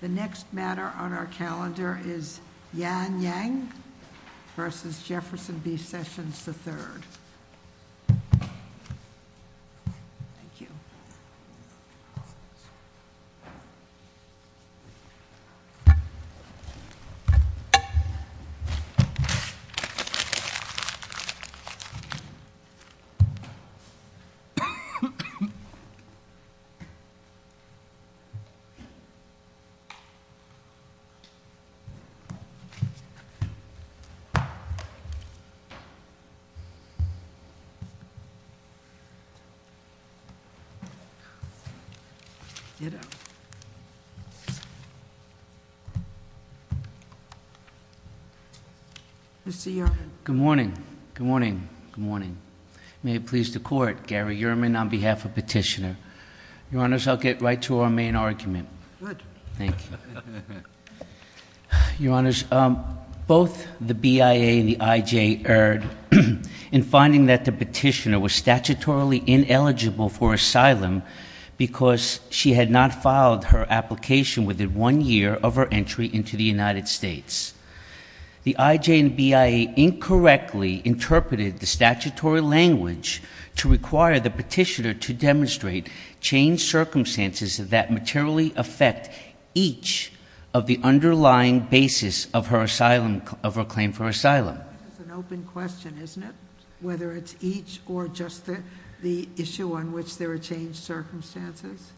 The next matter on our calendar is Yan Yang v. Jefferson B. Sessions III. Mr. Yerman. Good morning. Good morning. Good morning. May it please the Court, Gary Yerman on behalf of Petitioner. Your Honors, I'll get right to our main argument. Good. Thank you. Your Honors, both the BIA and the IJ erred in finding that the Petitioner was statutorily ineligible for asylum because she had not filed her application within one year of her entry into the United States. The IJ and BIA incorrectly interpreted the statutory language to require the Petitioner to demonstrate changed circumstances that materially affect each of the underlying basis of her claim for asylum. That's an open question, isn't it? Whether it's each or just the issue on which there are changed circumstances?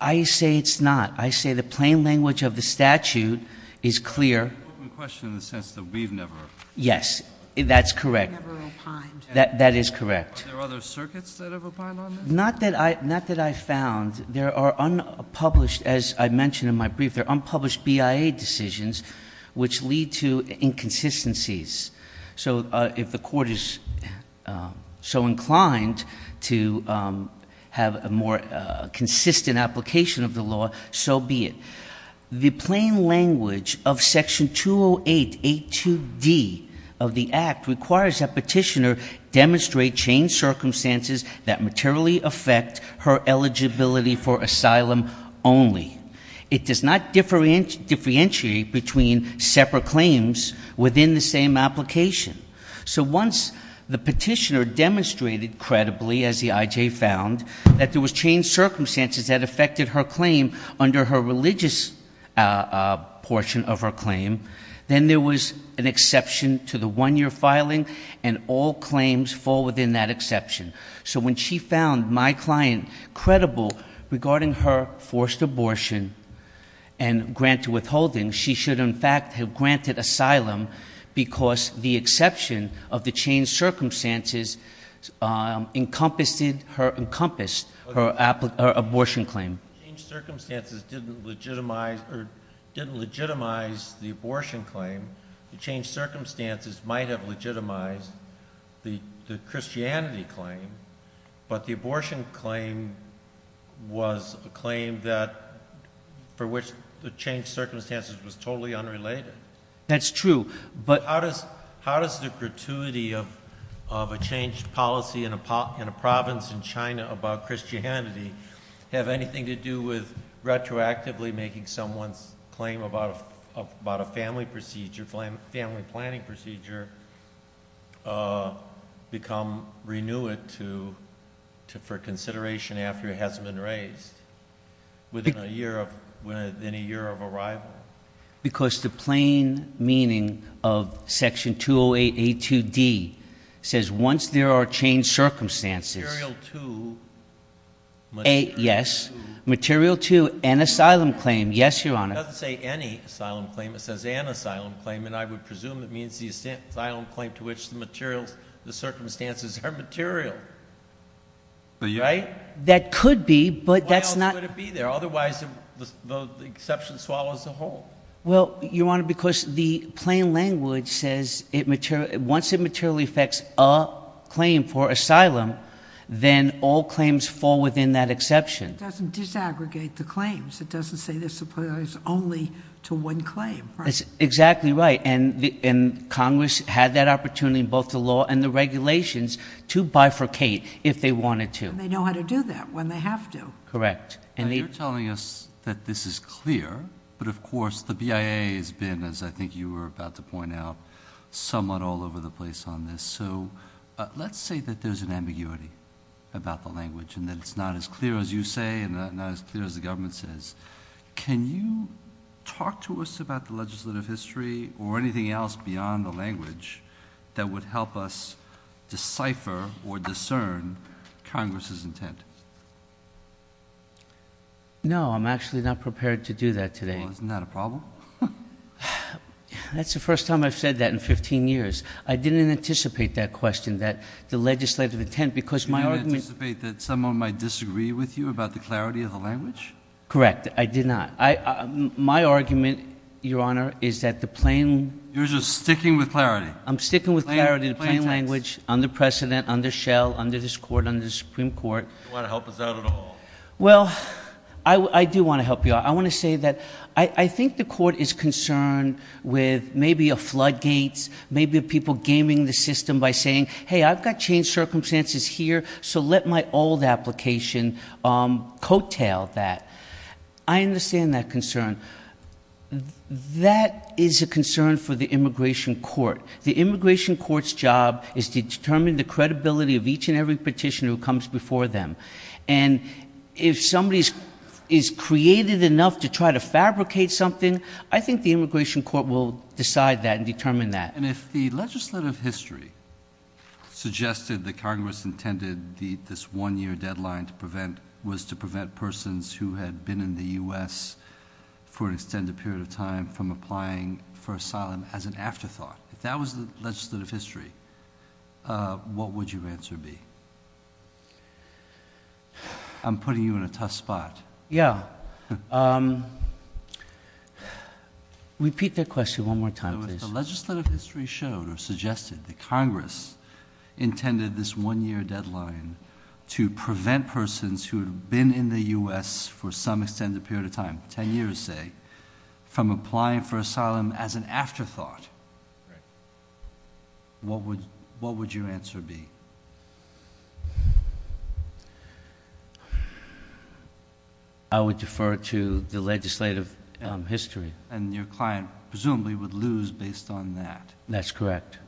I say it's not. I say the plain language of the statute is clear. It's an open question in the sense that we've never opined. Yes. That's correct. We've never opined. That is correct. Are there other circuits that have opined on this? Not that I found. There are unpublished, as I mentioned in my brief, there are unpublished BIA decisions which lead to inconsistencies. So if the Court is so inclined to have a more consistent application of the law, so be it. The plain language of Section 20882D of the Act requires that Petitioner demonstrate changed circumstances that materially affect her eligibility for asylum only. It does not differentiate between separate claims within the same application. So once the Petitioner demonstrated credibly, as the IJ found, that there was changed circumstances that affected her claim under her religious portion of her claim, then there was an exception to the one-year filing, and all claims fall within that exception. So when she found my client credible regarding her forced abortion and grant to withholding, she should, in fact, have granted asylum because the exception of the changed circumstances encompassed her abortion claim. If the changed circumstances didn't legitimize the abortion claim, the changed circumstances might have legitimized the Christianity claim, but the abortion claim was a claim for which the changed circumstances was totally unrelated. That's true. But how does the gratuity of a changed policy in a province in China about Christianity have anything to do with retroactively making someone's claim about a family procedure, family planning procedure, become renewed for consideration after it hasn't been raised within a year of arrival? Because the plain meaning of Section 208A2D says once there are changed circumstances Material to material to Yes. Material to an asylum claim. Yes, Your Honor. It doesn't say any asylum claim. It says an asylum claim, and I would presume it means the asylum claim to which the materials, the circumstances are material, right? That could be, but that's not Why would it be there? Otherwise, the exception swallows the whole. Well, Your Honor, because the plain language says once it materially affects a claim for asylum, then all claims fall within that exception. It doesn't disaggregate the claims. It doesn't say there's only to one claim, right? Exactly right, and Congress had that opportunity in both the law and the regulations to bifurcate if they wanted to. And they know how to do that when they have to. Correct. And you're telling us that this is clear, but of course the BIA has been, as I think you were about to point out, somewhat all over the place on this. So let's say that there's an ambiguity about the language and that it's not as clear as you say and not as clear as the government says. Can you talk to us about the legislative history or anything else beyond the language that would help us decipher or discern Congress's intent? No, I'm actually not prepared to do that today. Well, isn't that a problem? That's the first time I've said that in 15 years. I didn't anticipate that question, that the legislative intent, because my argument You didn't anticipate that someone might disagree with you about the clarity of the language? Correct. I did not. My argument, Your Honor, is that the plain You're just sticking with clarity. I'm sticking with clarity, the plain language, under precedent, under shell, under this Court, under the Supreme Court. You don't want to help us out at all. Well, I do want to help you out. I want to say that I think the Court is concerned with maybe a floodgates, maybe people gaming the system by saying, hey, I've got changed circumstances here, so let my old application coattail that. I understand that concern. That is a concern for the Immigration Court. The Immigration Court's job is to determine the credibility of each and every petitioner who comes before them. And if somebody is creative enough to try to fabricate something, I think the Immigration Court will decide that and determine that. And if the legislative history suggested that Congress intended this one-year deadline was to prevent persons who had been in the U.S. for an extended period of time from applying for asylum as an afterthought, if that was the legislative history, what would your answer be? I'm putting you in a tough spot. Yeah. Repeat that question one more time, please. If the legislative history showed or suggested that Congress intended this one-year deadline to prevent persons who had been in the U.S. for some extended period of time, ten years, say, from applying for asylum as an afterthought, what would your answer be? I would defer to the legislative history. And your client presumably would lose based on that. That's correct.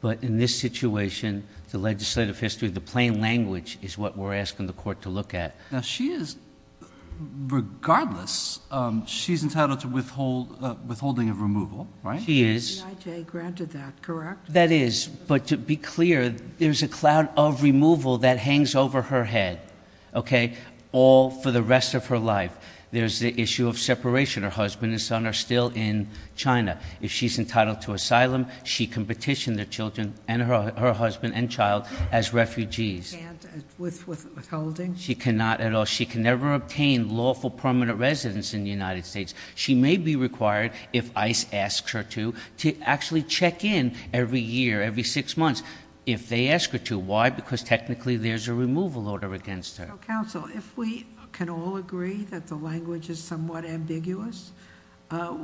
But in this situation, the legislative history, the plain language is what we're asking the court to look at. Now, she is, regardless, she's entitled to withholding of removal, right? She is. The IJ granted that, correct? That is. But to be clear, there's a cloud of removal that hangs over her head, okay, all for the rest of her life. There's the issue of separation. Her husband and son are still in China. If she's entitled to asylum, she can petition their children and her husband and child as refugees. Can't withholding? She cannot at all. She can never obtain lawful permanent residence in the United States. She may be required, if ICE asks her to, to actually check in every year, every six months. If they ask her to, why? Because technically there's a removal order against her. So, counsel, if we can all agree that the language is somewhat ambiguous,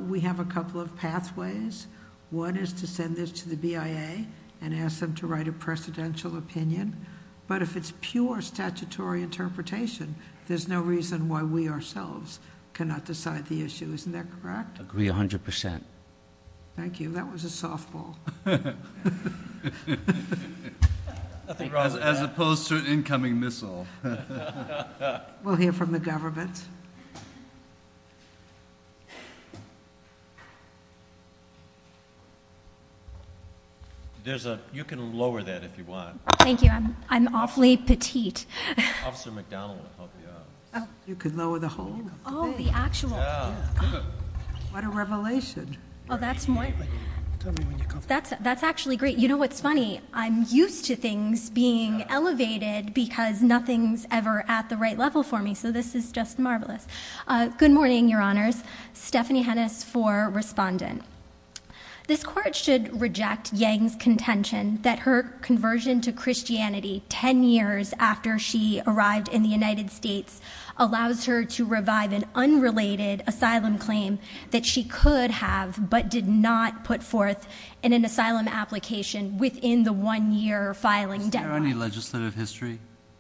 we have a couple of pathways. One is to send this to the BIA and ask them to write a precedential opinion. But if it's pure statutory interpretation, there's no reason why we ourselves cannot decide the issue. Isn't that correct? Agree 100%. Thank you. That was a softball. As opposed to an incoming missile. We'll hear from the government. There's a, you can lower that if you want. Thank you. I'm awfully petite. Officer McDonald will help you out. You can lower the whole thing. Oh, the actual thing. What a revelation. Oh, that's more. Tell me when you're comfortable. That's actually great. You know what's funny? I'm used to things being elevated because nothing's ever at the right level for me. So this is just marvelous. Good morning, your honors. Stephanie Hennis for respondent. This court should reject Yang's contention that her conversion to Christianity ten years after she arrived in the United States allows her to revive an unrelated asylum claim that she could have but did not put forth in an asylum application within the one year filing deadline. Is there any legislative history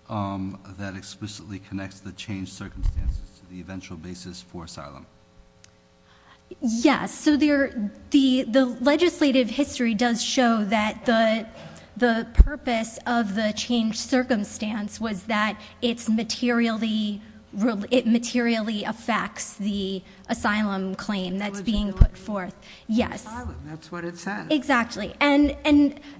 that explicitly connects the changed circumstances to the eventual basis for asylum? Yes, so the legislative history does show that the purpose of the changed circumstance was that it materially affects the asylum claim that's being put forth. Yes. Asylum, that's what it says. Exactly. And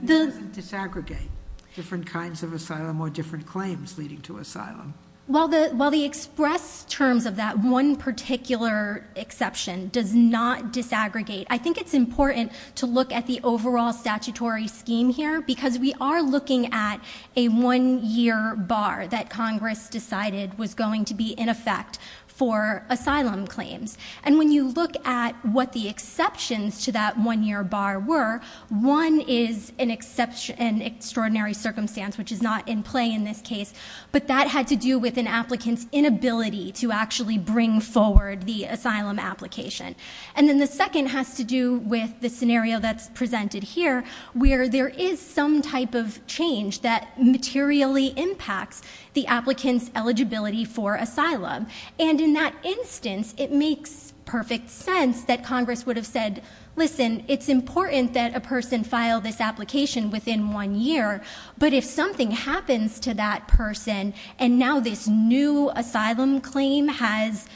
the- It doesn't disaggregate different kinds of asylum or different claims leading to asylum. While the express terms of that one particular exception does not disaggregate, I think it's important to look at the overall statutory scheme here because we are looking at a one year bar that Congress decided was going to be in effect for asylum claims. And when you look at what the exceptions to that one year bar were, one is an extraordinary circumstance which is not in play in this case. But that had to do with an applicant's inability to actually bring forward the asylum application. And then the second has to do with the scenario that's presented here, where there is some type of change that materially impacts the applicant's eligibility for asylum. And in that instance, it makes perfect sense that Congress would have said, listen, it's important that a person file this application within one year. But if something happens to that person, and now this new asylum claim has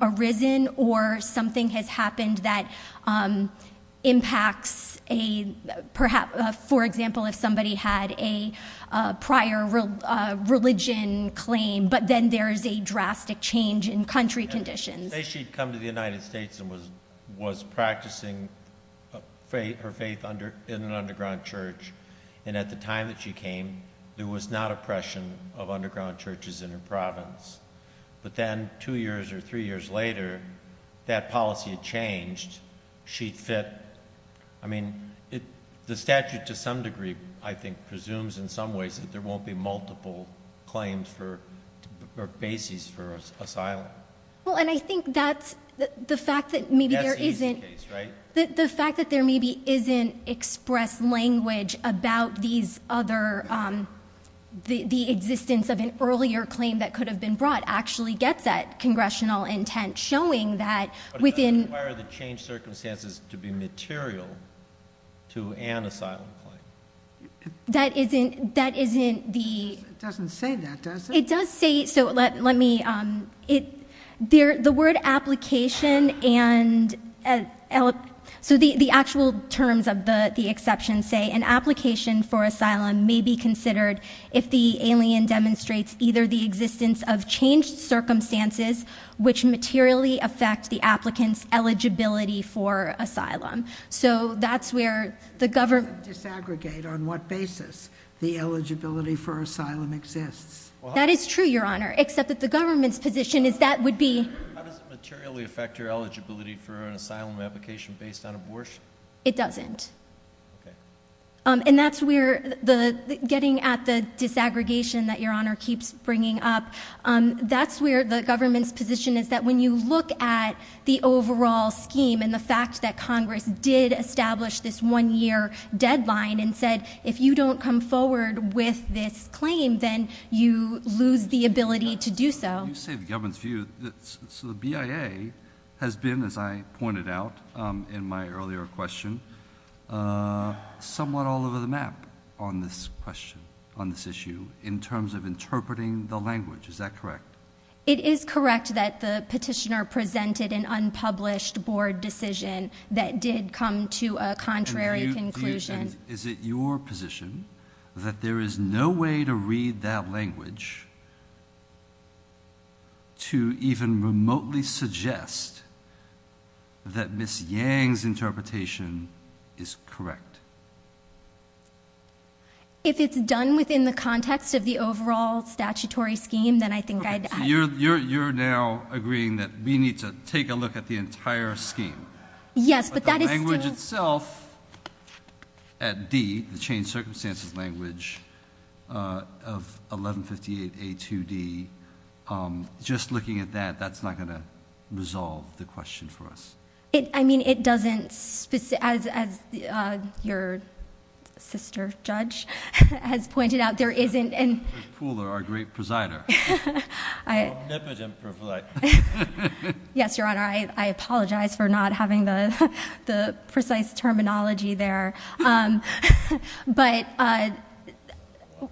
arisen or something has happened that impacts a, for example, if somebody had a prior religion claim, but then there's a drastic change in country conditions. Say she'd come to the United States and was practicing her faith in an underground church. And at the time that she came, there was not oppression of underground churches in her province. But then, two years or three years later, that policy had changed. She'd fit, I mean, the statute to some degree, I think, presumes in some ways that there won't be multiple claims for, or bases for asylum. Well, and I think that's the fact that maybe there isn't- That's the easy case, right? The fact that there maybe isn't expressed language about these other, the existence of an earlier claim that could have been brought actually gets that congressional intent showing that within- But it doesn't require the changed circumstances to be material to an asylum claim. That isn't the- It doesn't say that, does it? It does say, so let me, the word application and, so the actual terms of the exception say, an application for asylum may be considered if the alien demonstrates either the existence of changed circumstances, which materially affect the applicant's eligibility for asylum. So that's where the government- Disaggregate on what basis the eligibility for asylum exists. That is true, your honor, except that the government's position is that would be- An asylum application based on abortion? It doesn't. And that's where the, getting at the disaggregation that your honor keeps bringing up, that's where the government's position is that when you look at the overall scheme and the fact that Congress did establish this one year deadline and said if you don't come forward with this claim then you lose the ability to do so. You say the government's view, so the BIA has been, as I pointed out in my earlier question, somewhat all over the map on this question, on this issue, in terms of interpreting the language. Is that correct? It is correct that the petitioner presented an unpublished board decision that did come to a contrary conclusion. Is it your position that there is no way to read that language to even remotely suggest that Ms. Yang's interpretation is correct? If it's done within the context of the overall statutory scheme, then I think I'd- Okay, so you're now agreeing that we need to take a look at the entire scheme. Yes, but that is still- But the language itself at D, the changed circumstances language of 1158 A2D, just looking at that, that's not going to resolve the question for us. I mean, it doesn't, as your sister judge has pointed out, there isn't- Our great presider. I- Omnipotent presider. Yes, your honor, I apologize for not having the precise terminology there. But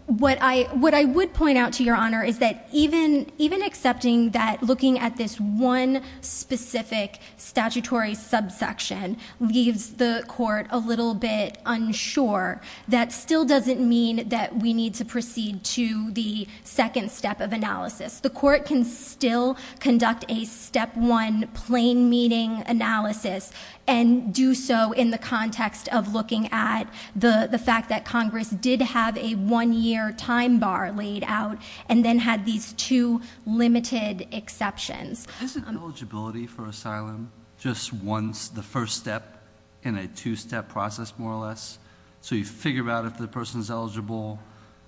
what I would point out to your honor is that even accepting that looking at this one specific statutory subsection leaves the court a little bit unsure. That still doesn't mean that we need to proceed to the second step of analysis. The court can still conduct a step one plain meeting analysis and do so in the context of looking at the fact that Congress did have a one year time bar laid out and then had these two limited exceptions. Isn't eligibility for asylum just once the first step in a two step process more or less? So you figure out if the person's eligible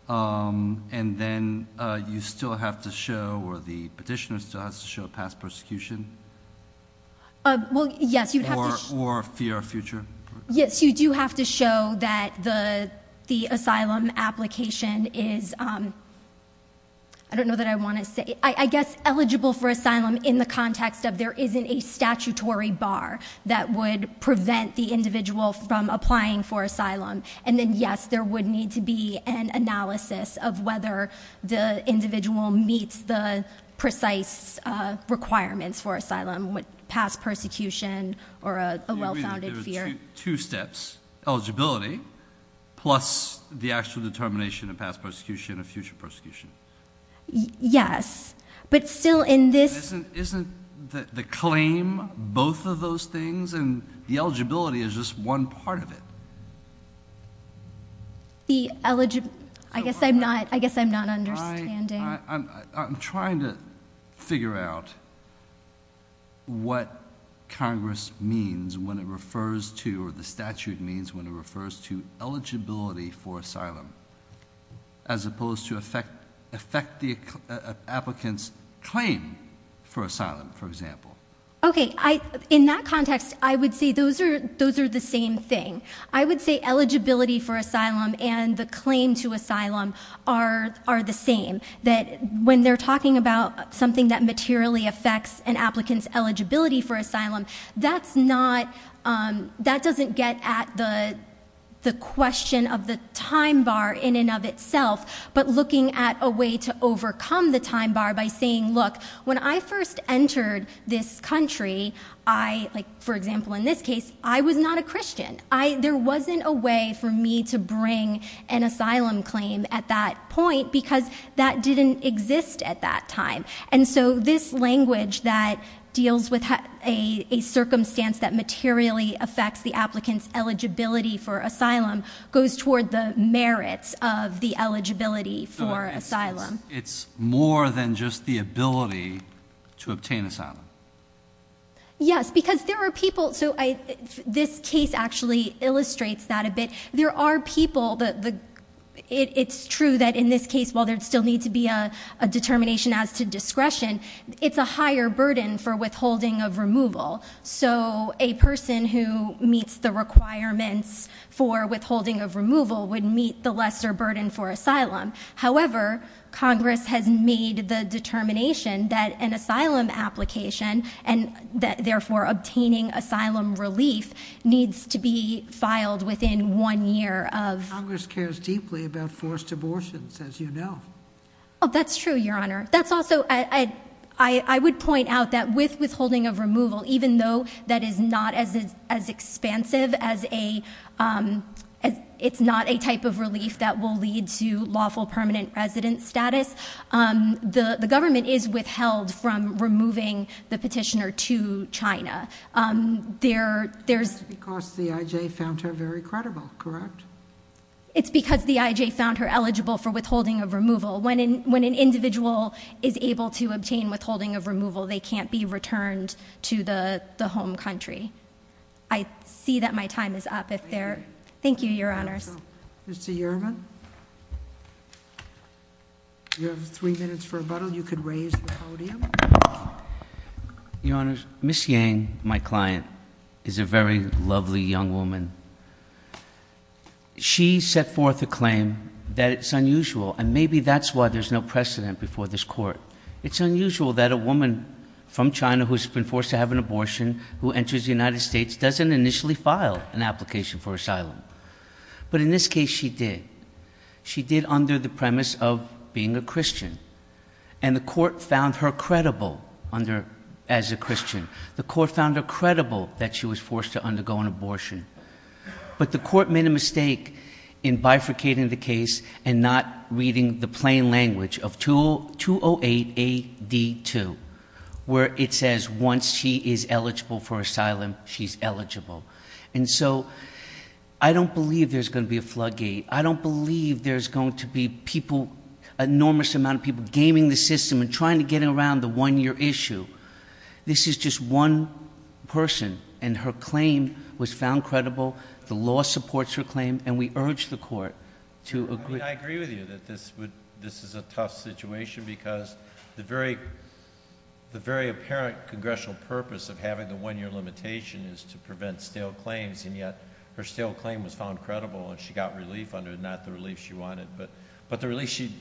and then you still have to show or the petitioner still has to show past persecution? Well, yes, you'd have to- For fear of future. Yes, you do have to show that the asylum application is, I don't know that I want to say, I guess eligible for asylum in the context of there isn't a statutory bar that would prevent the individual from applying for asylum. And then yes, there would need to be an analysis of whether the individual meets the precise requirements for asylum with past persecution or a well-founded fear. You mean there are two steps, eligibility plus the actual determination of past persecution or future persecution? Yes, but still in this- Isn't the claim both of those things and the eligibility is just one part of it? The eligibility, I guess I'm not understanding. I'm trying to figure out what Congress means when it refers to, or the statute means when it refers to eligibility for asylum, as opposed to affect the applicant's claim for asylum, for example. Okay, in that context, I would say those are the same thing. I would say eligibility for asylum and the claim to asylum are the same. When they're talking about something that materially affects an applicant's eligibility for asylum, that doesn't get at the question of the time bar in and of itself, but looking at a way to overcome the time bar by saying, look, when I first entered this country, for example in this case, I was not a Christian. There wasn't a way for me to bring an asylum claim at that point because that didn't exist at that time. This language that deals with a circumstance that materially affects the applicant's eligibility for asylum goes toward the merits of the eligibility for asylum. It's more than just the ability to obtain asylum. Yes, because there are people- This case actually illustrates that a bit. There are people, it's true that in this case, while there'd still need to be a determination as to discretion, it's a higher burden for withholding of removal. So a person who meets the requirements for withholding of removal would meet the lesser burden for asylum. However, Congress has made the determination that an asylum application, and therefore obtaining asylum relief, needs to be filed within one year of- Congress cares deeply about forced abortions, as you know. That's true, Your Honor. That's also, I would point out that with withholding of removal, even though that is not as expansive as a, it's not a type of relief that will lead to lawful permanent resident status, the government is withheld from removing the petitioner to China. There's- Because the IJ found her very credible, correct? It's because the IJ found her eligible for withholding of removal. When an individual is able to obtain withholding of removal, they can't be returned to the home country. I see that my time is up if there- Thank you, Your Honors. Mr. Yerman, you have three minutes for rebuttal. You could raise the podium. Your Honors, Ms. Yang, my client, is a very lovely young woman. She set forth a claim that it's unusual, and maybe that's why there's no precedent before this court. It's unusual that a woman from China who's been forced to have an abortion, who enters the United States, doesn't initially file an application for asylum. But in this case, she did. She did under the premise of being a Christian. And the court found her credible as a Christian. The court found her credible that she was forced to undergo an abortion. But the court made a mistake in bifurcating the case and not reading the plain language of 208 AD2, where it says once she is eligible for asylum, she's eligible. And so I don't believe there's going to be a floodgate. I don't believe there's going to be people, enormous amount of people, gaming the system and trying to get around the one-year issue. This is just one person, and her claim was found credible. The law supports her claim, and we urge the court to agree- I agree with you that this is a tough situation because the very apparent congressional purpose of having the one-year limitation is to prevent stale claims. And yet, her stale claim was found credible, and she got relief under it, not the relief she wanted. But the relief she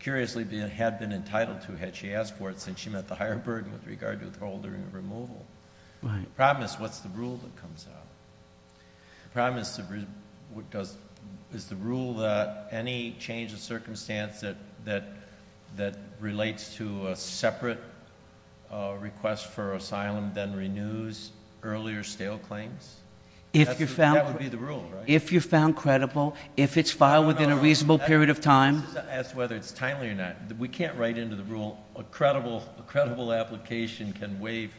curiously had been entitled to had she asked for it, since she met the higher burden with regard to withholding and removal. The problem is, what's the rule that comes out? The problem is, is the rule that any change of circumstance that relates to a separate request for asylum then renews earlier stale claims? If you found- That would be the rule, right? If you found credible, if it's filed within a reasonable period of time- As to whether it's timely or not, we can't write into the rule. A credible application can waive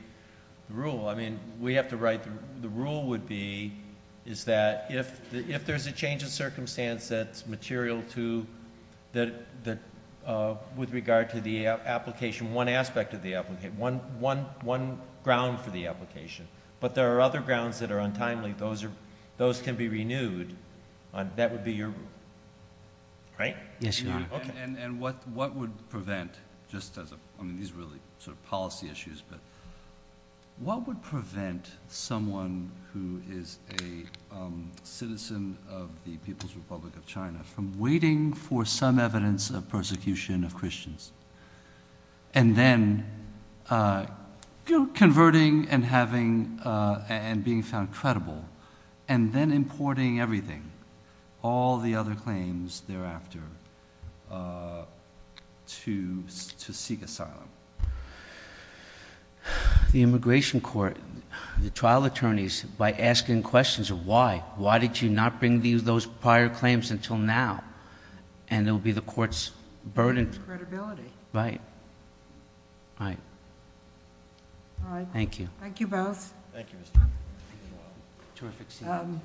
the rule. I mean, we have to write- the rule would be, is that if there's a change of circumstance that's material with regard to the application, one aspect of the application, one ground for the application. But there are other grounds that are untimely. Those can be renewed. That would be your- right? Yes, Your Honor. Okay. And what would prevent, just as a- I mean, these are really sort of policy issues, but what would prevent someone who is a citizen of the People's Republic of China from waiting for some evidence of persecution of Christians and then converting and having- and being found credible and then importing everything, all the other claims thereafter to seek asylum? Well, the immigration court, the trial attorneys, by asking questions of why, why did you not bring those prior claims until now? And it will be the court's burden. Credibility. Right. Right. All right. Thank you. Thank you both. Thank you, Mr. Chief Justice. Terrific seat.